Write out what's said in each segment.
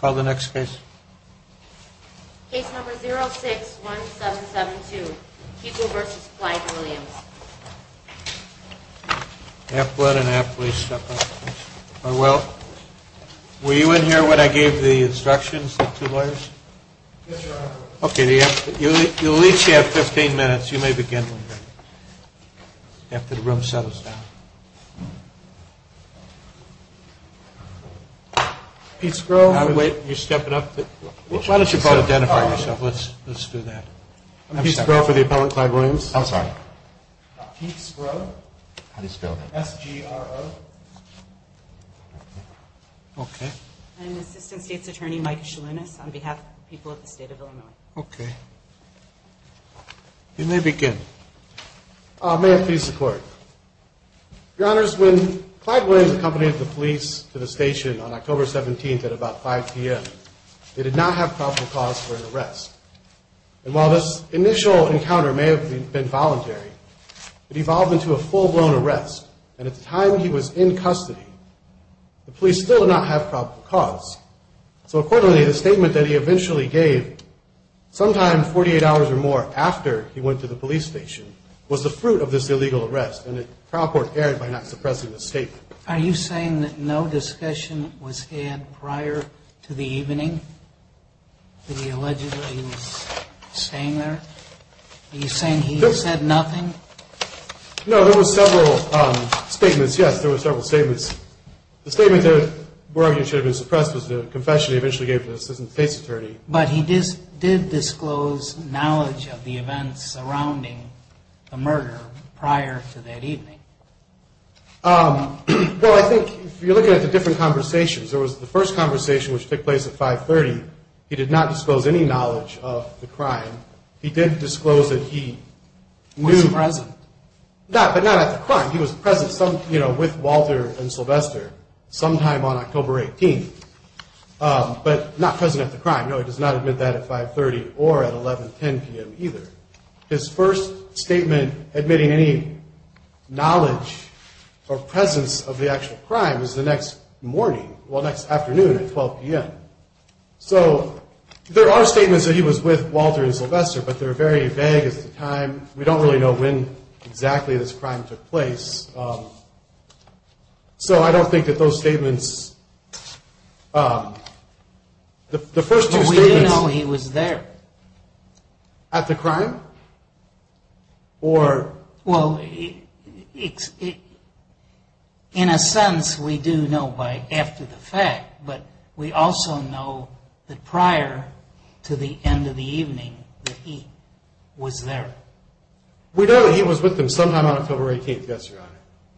Call the next case. Case number 061772, Pico v. Clyde-Williams. Half blood and half police. Are you in here when I gave the instructions, the two lawyers? Yes, Your Honor. Okay, you'll each have 15 minutes. You may begin after the room settles down. Why don't you both identify yourself? Let's do that. I'm Pete Sgro for the appellant, Clyde-Williams. I'm sorry. Pete Sgro. How do you spell that? S-G-R-O. Okay. I'm Assistant State's Attorney, Mike Shalounis, on behalf of the people of the State of Illinois. Okay. You may begin. May it please the Court. Your Honors, when Clyde-Williams accompanied the police to the station on October 17th at about 5 p.m., they did not have probable cause for an arrest. And while this initial encounter may have been voluntary, it evolved into a full-blown arrest. And at the time he was in custody, the police still did not have probable cause. So, accordingly, the statement that he eventually gave sometime 48 hours or more after he went to the police station was the fruit of this illegal arrest, and the trial court erred by not suppressing the statement. Are you saying that no discussion was had prior to the evening that he allegedly was staying there? Are you saying he said nothing? No, there were several statements. Yes, there were several statements. The statement that we're arguing should have been suppressed was the confession he eventually gave to the Assistant State's Attorney. But he did disclose knowledge of the events surrounding the murder prior to that evening. Well, I think if you're looking at the different conversations, there was the first conversation which took place at 5.30. He did not disclose any knowledge of the crime. He did disclose that he knew. Was present. But not at the crime. He was present with Walter and Sylvester sometime on October 18th, but not present at the crime. No, he does not admit that at 5.30 or at 11.10 p.m. either. His first statement admitting any knowledge or presence of the actual crime was the next morning, well, next afternoon at 12 p.m. So, there are statements that he was with Walter and Sylvester, but they're very vague as to the time. We don't really know when exactly this crime took place. So, I don't think that those statements, the first two statements. But we do know he was there. At the crime? Well, in a sense, we do know by after the fact, but we also know that prior to the end of the evening that he was there. We know that he was with them sometime on October 18th. Yes, Your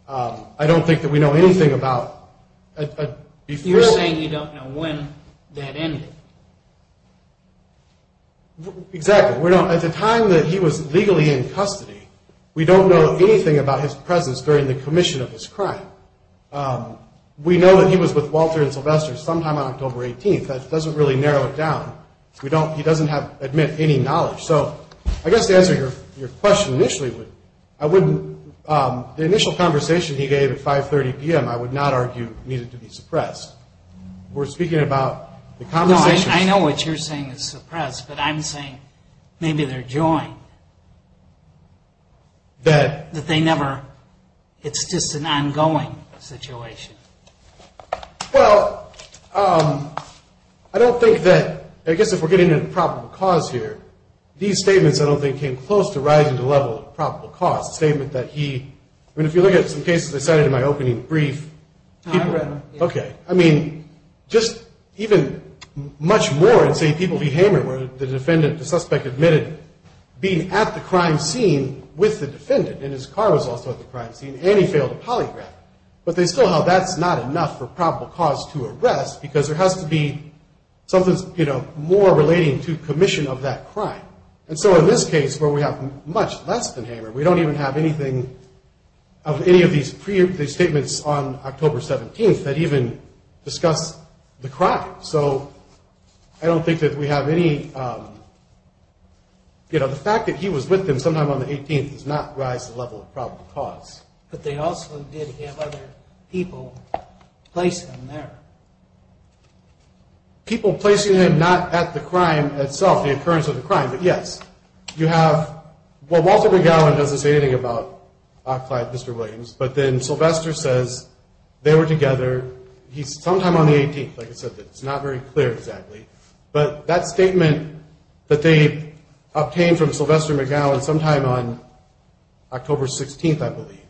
Honor. I don't think that we know anything about. You're saying you don't know when that ended. Exactly. At the time that he was legally in custody, we don't know anything about his presence during the commission of this crime. We know that he was with Walter and Sylvester sometime on October 18th. That doesn't really narrow it down. He doesn't admit any knowledge. So, I guess to answer your question initially, the initial conversation he gave at 5.30 p.m. I would not argue needed to be suppressed. We're speaking about the conversation. No, I know what you're saying is suppressed, but I'm saying maybe they're joined. That they never, it's just an ongoing situation. Well, I don't think that, I guess if we're getting into probable cause here, these statements I don't think came close to rising to the level of probable cause. The statement that he, I mean, if you look at some cases I cited in my opening brief. I've read them. Okay. I mean, just even much more in say, People v. Hamer, where the defendant, the suspect admitted being at the crime scene with the defendant, and his car was also at the crime scene, and he failed to polygraph. But they still held that's not enough for probable cause to arrest, because there has to be something more relating to commission of that crime. And so, in this case, where we have much less than Hamer, we don't even have anything of any of these statements on October 17th that even discuss the crime. So, I don't think that we have any, you know, the fact that he was with them sometime on the 18th does not rise to the level of probable cause. But they also did have other people place him there. People placing him not at the crime itself, the occurrence of the crime. But, yes, you have, well, Walter McGowan doesn't say anything about Ock Clyde and Mr. Williams. But then Sylvester says they were together sometime on the 18th. Like I said, it's not very clear exactly. But that statement that they obtained from Sylvester McGowan sometime on October 16th, I believe.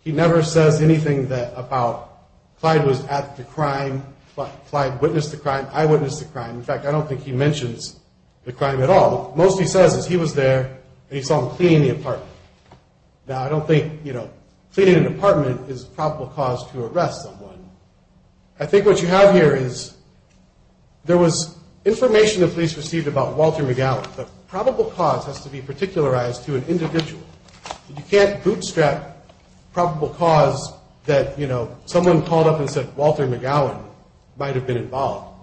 He never says anything about Clyde was at the crime, Clyde witnessed the crime, I witnessed the crime. In fact, I don't think he mentions the crime at all. Most he says is he was there, and he saw him cleaning the apartment. Now, I don't think, you know, cleaning an apartment is probable cause to arrest someone. I think what you have here is there was information the police received about Walter McGowan. But probable cause has to be particularized to an individual. You can't bootstrap probable cause that, you know, someone called up and said Walter McGowan might have been involved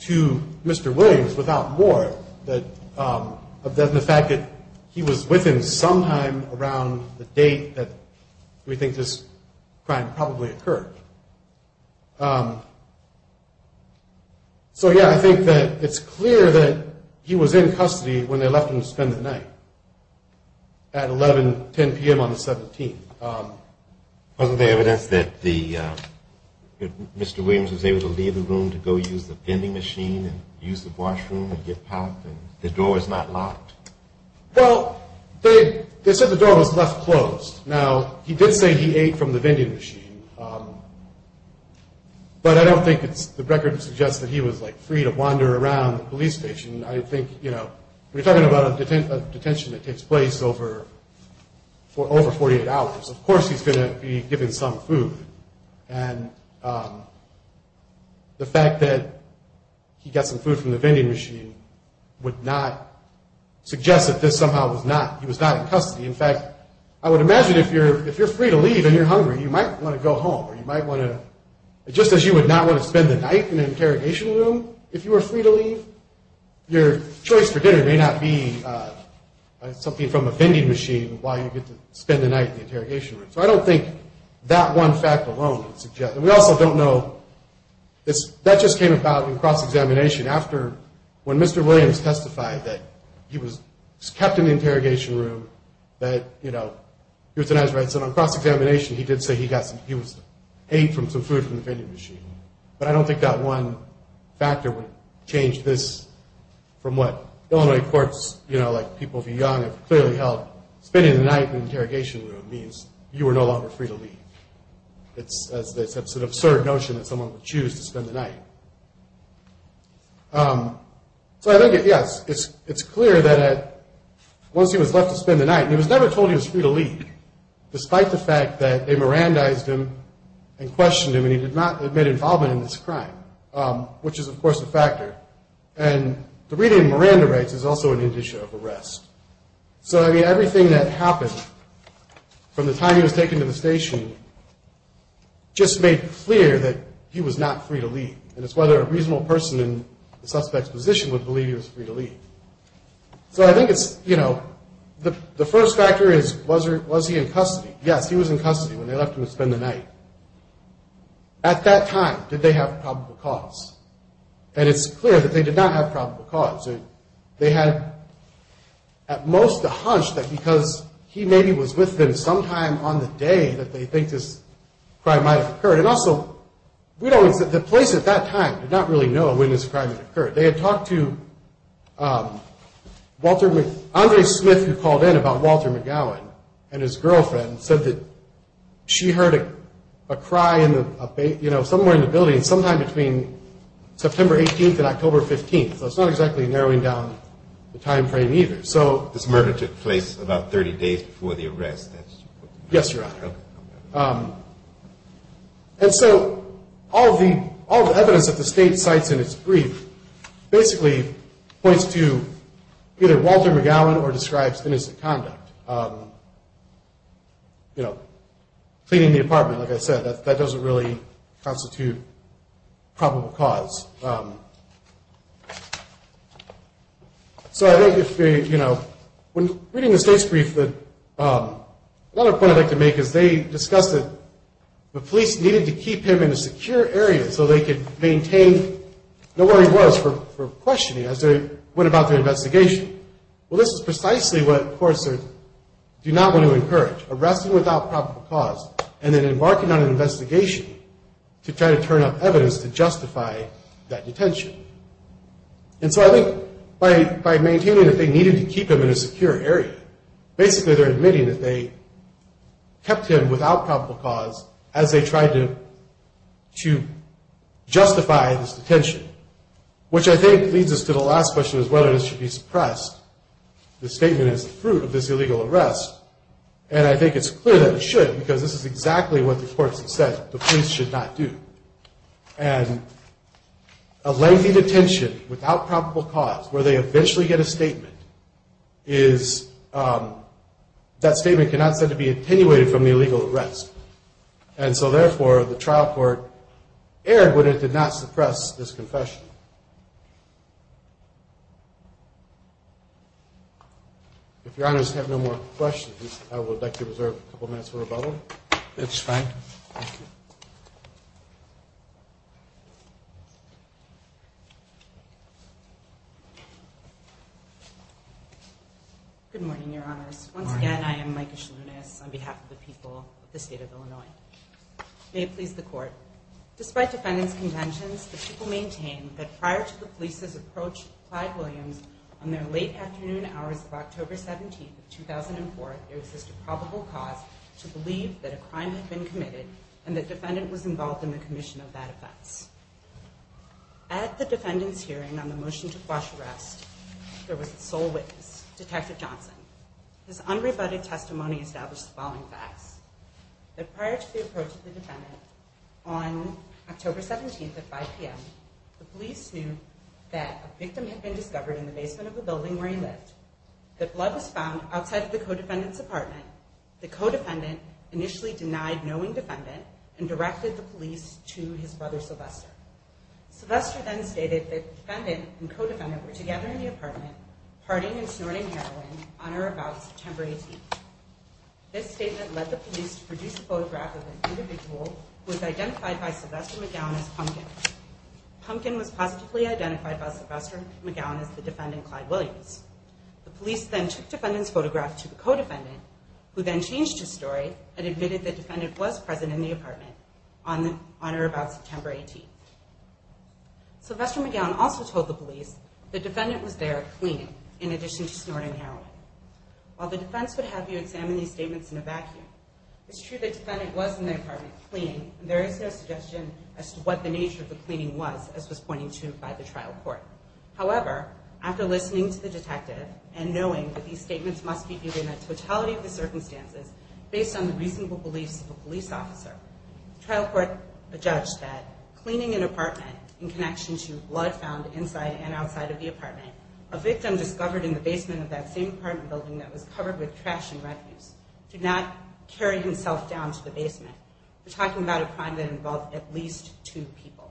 to Mr. Williams without more than the fact that he was with him sometime around the date that we think this crime probably occurred. So, yeah, I think that it's clear that he was in custody when they left him to spend the night at 11, 10 p.m. on the 17th. Wasn't there evidence that Mr. Williams was able to leave the room to go use the vending machine and use the washroom and get packed and the door was not locked? Well, they said the door was left closed. Now, he did say he ate from the vending machine, but I don't think the record suggests that he was, like, free to wander around the police station. I think, you know, we're talking about a detention that takes place over 48 hours. Of course he's going to be given some food. And the fact that he got some food from the vending machine would not suggest that this somehow was not – he was not in custody. In fact, I would imagine if you're free to leave and you're hungry, you might want to go home or you might want to – just as you would not want to spend the night in an interrogation room if you were free to leave, your choice for dinner may not be something from a vending machine while you get to spend the night in the interrogation room. So I don't think that one fact alone would suggest. And we also don't know – that just came about in cross-examination after – when Mr. Williams testified that he was kept in the interrogation room, that, you know, he was denied his rights. And on cross-examination, he did say he got some – he ate from some food from the vending machine. But I don't think that one factor would change this from what Illinois courts, you know, like people of young have clearly held. Spending the night in an interrogation room means you are no longer free to leave. It's an absurd notion that someone would choose to spend the night. So I think, yes, it's clear that once he was left to spend the night – and he was never told he was free to leave despite the fact that they Mirandized him and questioned him and he did not admit involvement in this crime, which is, of course, a factor. And the reading of Miranda rights is also an indication of arrest. So, I mean, everything that happened from the time he was taken to the station just made clear that he was not free to leave. And it's whether a reasonable person in the suspect's position would believe he was free to leave. So I think it's, you know, the first factor is was he in custody? Yes, he was in custody when they left him to spend the night. At that time, did they have probable cause? And it's clear that they did not have probable cause. They had at most a hunch that because he maybe was with them sometime on the day that they think this crime might have occurred. And also, we don't – the police at that time did not really know when this crime had occurred. They had talked to Walter – Andre Smith, who called in about Walter McGowan and his girlfriend, and said that she heard a cry in the – you know, somewhere in the building sometime between September 18th and October 15th. So it's not exactly narrowing down the timeframe either. So this murder took place about 30 days before the arrest. Yes, Your Honor. And so all the evidence that the state cites in its brief basically points to either Walter McGowan or describes innocent conduct. You know, cleaning the apartment, like I said, that doesn't really constitute probable cause. So I think if – you know, when reading the state's brief, another point I'd like to make is they discussed that the police needed to keep him in a secure area so they could maintain – know where he was for questioning as they went about their investigation. Well, this is precisely what courts do not want to encourage, arresting without probable cause and then embarking on an investigation to try to turn up evidence to justify that detention. And so I think by maintaining that they needed to keep him in a secure area, basically they're admitting that they kept him without probable cause as they tried to justify this detention, which I think leads us to the last question is whether this should be suppressed. The statement is the fruit of this illegal arrest, and I think it's clear that it should because this is exactly what the courts have said the police should not do. And a lengthy detention without probable cause, where they eventually get a statement, is – that statement cannot be said to be attenuated from the illegal arrest. And so therefore, the trial court erred when it did not suppress this confession. If Your Honors have no more questions, I would like to reserve a couple minutes for rebuttal. That's fine. Thank you. Good morning, Your Honors. Once again, I am Micah Schlounis on behalf of the people of the state of Illinois. May it please the Court, despite defendant's contentions, the people maintain that prior to the police's approach to Clyde Williams on their late afternoon hours of October 17th, 2004, there exists a probable cause to believe that a crime had been committed and the defendant was involved in the commission of that offense. At the defendant's hearing on the motion to quash arrest, there was a sole witness, Detective Johnson. His unrebutted testimony established the following facts. That prior to the approach of the defendant on October 17th at 5 p.m., the police knew that a victim had been discovered in the basement of a building where he lived, that blood was found outside of the co-defendant's apartment. The co-defendant initially denied knowing the defendant and directed the police to his brother, Sylvester. Sylvester then stated that the defendant and co-defendant were together in the apartment, partying and snorting heroin on or about September 18th. This statement led the police to produce a photograph of an individual who was identified by Sylvester McGowan as Pumpkin. Pumpkin was positively identified by Sylvester McGowan as the defendant, Clyde Williams. The police then took the defendant's photograph to the co-defendant, who then changed his story and admitted the defendant was present in the apartment on or about September 18th. Sylvester McGowan also told the police the defendant was there cleaning, in addition to snorting heroin. While the defense would have you examine these statements in a vacuum, it's true the defendant was in the apartment cleaning, and there is no suggestion as to what the nature of the cleaning was, as was pointed to by the trial court. However, after listening to the detective and knowing that these statements must be given in totality of the circumstances, based on the reasonable beliefs of a police officer, the trial court adjudged that cleaning an apartment in connection to blood found inside and outside of the apartment, a victim discovered in the basement of that same apartment building that was covered with trash and refuse, did not carry himself down to the basement. We're talking about a crime that involved at least two people.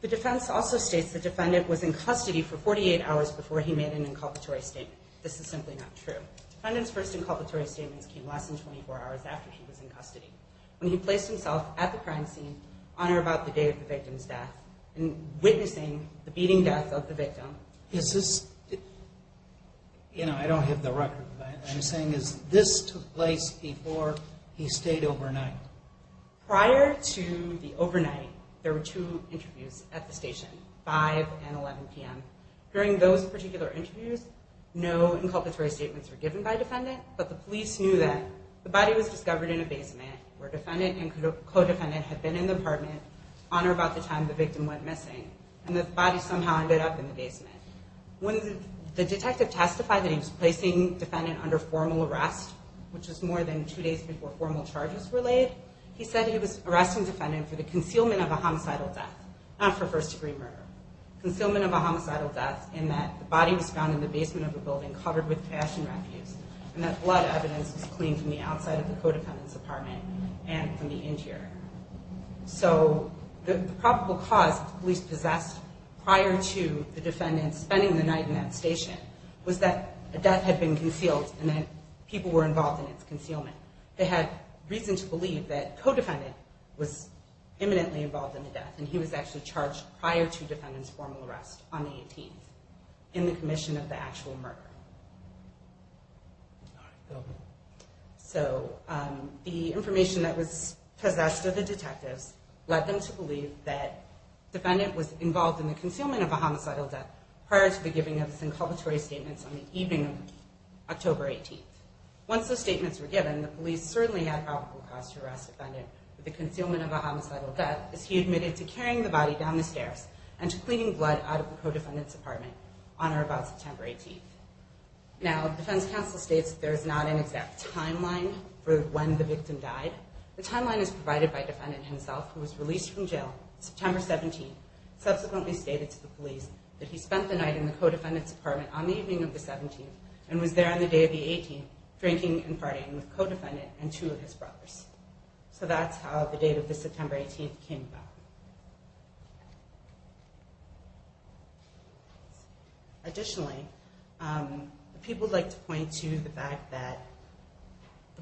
The defense also states the defendant was in custody for 48 hours before he made an inculpatory statement. This is simply not true. The defendant's first inculpatory statements came less than 24 hours after he was in custody, when he placed himself at the crime scene on or about the day of the victim's death, witnessing the beating death of the victim. Is this... you know, I don't have the record, but what I'm saying is this took place before he stayed overnight. Prior to the overnight, there were two interviews at the station, 5 and 11 p.m. During those particular interviews, no inculpatory statements were given by a defendant, but the police knew that the body was discovered in a basement, where defendant and co-defendant had been in the apartment on or about the time the victim went missing, and the body somehow ended up in the basement. When the detective testified that he was placing defendant under formal arrest, which was more than two days before formal charges were laid, he said he was arresting defendant for the concealment of a homicidal death, not for first-degree murder. Concealment of a homicidal death in that the body was found in the basement of a building covered with cash and refuse, and that blood evidence was cleaned from the outside of the co-defendant's apartment and from the interior. So the probable cause the police possessed prior to the defendant spending the night in that station was that a death had been concealed and that people were involved in its concealment. They had reason to believe that co-defendant was imminently involved in the death, and he was actually charged prior to defendant's formal arrest on the 18th, in the commission of the actual murder. So the information that was possessed of the detectives led them to believe that defendant was involved in the concealment of a homicidal death prior to the giving of his inculpatory statements on the evening of October 18th. Once those statements were given, the police certainly had probable cause to arrest defendant for the concealment of a homicidal death, as he admitted to carrying the body down the stairs and to cleaning blood out of the co-defendant's apartment on or about September 18th. Now, the defense counsel states that there is not an exact timeline for when the victim died. The timeline is provided by defendant himself, who was released from jail September 17th, subsequently stated to the police that he spent the night in the co-defendant's apartment on the evening of the 17th, and was there on the day of the 18th, drinking and farting with co-defendant and two of his brothers. So that's how the date of the September 18th came about. Additionally, people like to point to the fact that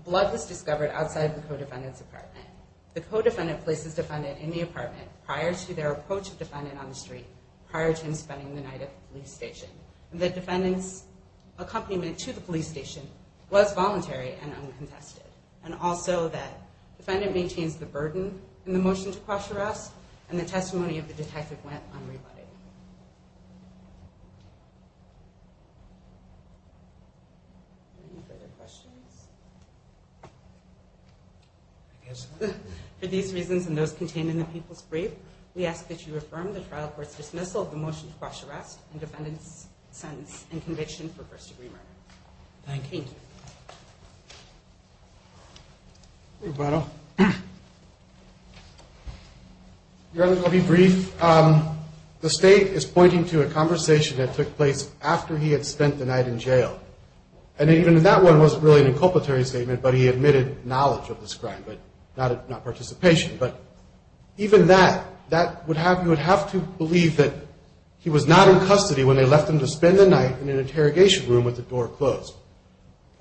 blood was discovered outside the co-defendant's apartment. The co-defendant places defendant in the apartment prior to their approach of defendant on the street, prior to him spending the night at the police station. The defendant's accompaniment to the police station was voluntary and uncontested, and also that defendant maintains the burden in the motion to cross-arrest, and the testimony of the detective went unrebutted. Any further questions? For these reasons and those contained in the people's brief, we ask that you affirm the trial court's dismissal of the motion to cross-arrest and defendant's sentence and conviction for first-degree murder. Thank you. Your Honor, I'll be brief. The State is pointing to a conversation that took place after he had spent the night in jail, and even that one wasn't really an inculpatory statement, but he admitted knowledge of this crime, not participation. But even that, you would have to believe that he was not in custody when they left him to spend the night in an interrogation room with the door closed.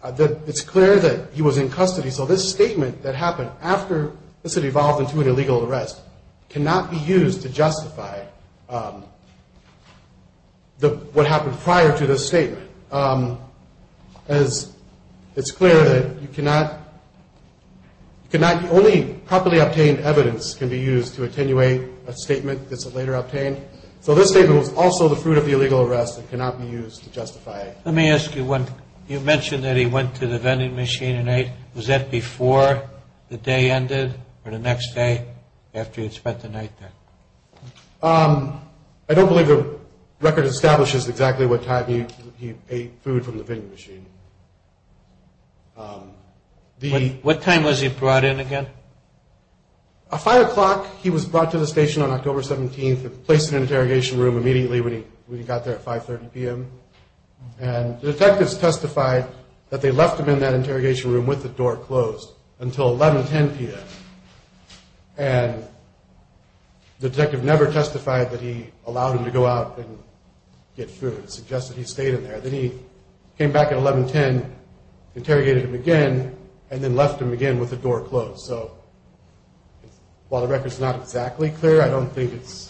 It's clear that he was in custody, so this statement that happened after this had evolved into an illegal arrest cannot be used to justify what happened prior to this statement, as it's clear that only properly obtained evidence can be used to attenuate a statement that's later obtained. So this statement was also the fruit of the illegal arrest and cannot be used to justify it. Let me ask you one. You mentioned that he went to the vending machine and ate. Was that before the day ended or the next day after he had spent the night there? I don't believe the record establishes exactly what time he ate food from the vending machine. What time was he brought in again? At 5 o'clock, he was brought to the station on October 17th and placed in an interrogation room immediately when he got there at 5.30 p.m. And the detectives testified that they left him in that interrogation room with the door closed until 11.10 p.m. And the detective never testified that he allowed him to go out and get food. It suggests that he stayed in there. Then he came back at 11.10, interrogated him again, and then left him again with the door closed. So while the record is not exactly clear, I don't think it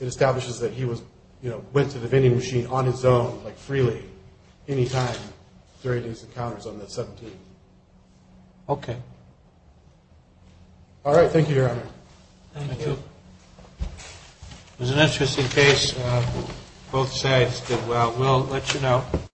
establishes that he went to the vending machine on his own, like freely, any time during his encounters on that 17th. Okay. All right. Thank you, Your Honor. Thank you. It was an interesting case. Both sides did well. We'll let you know.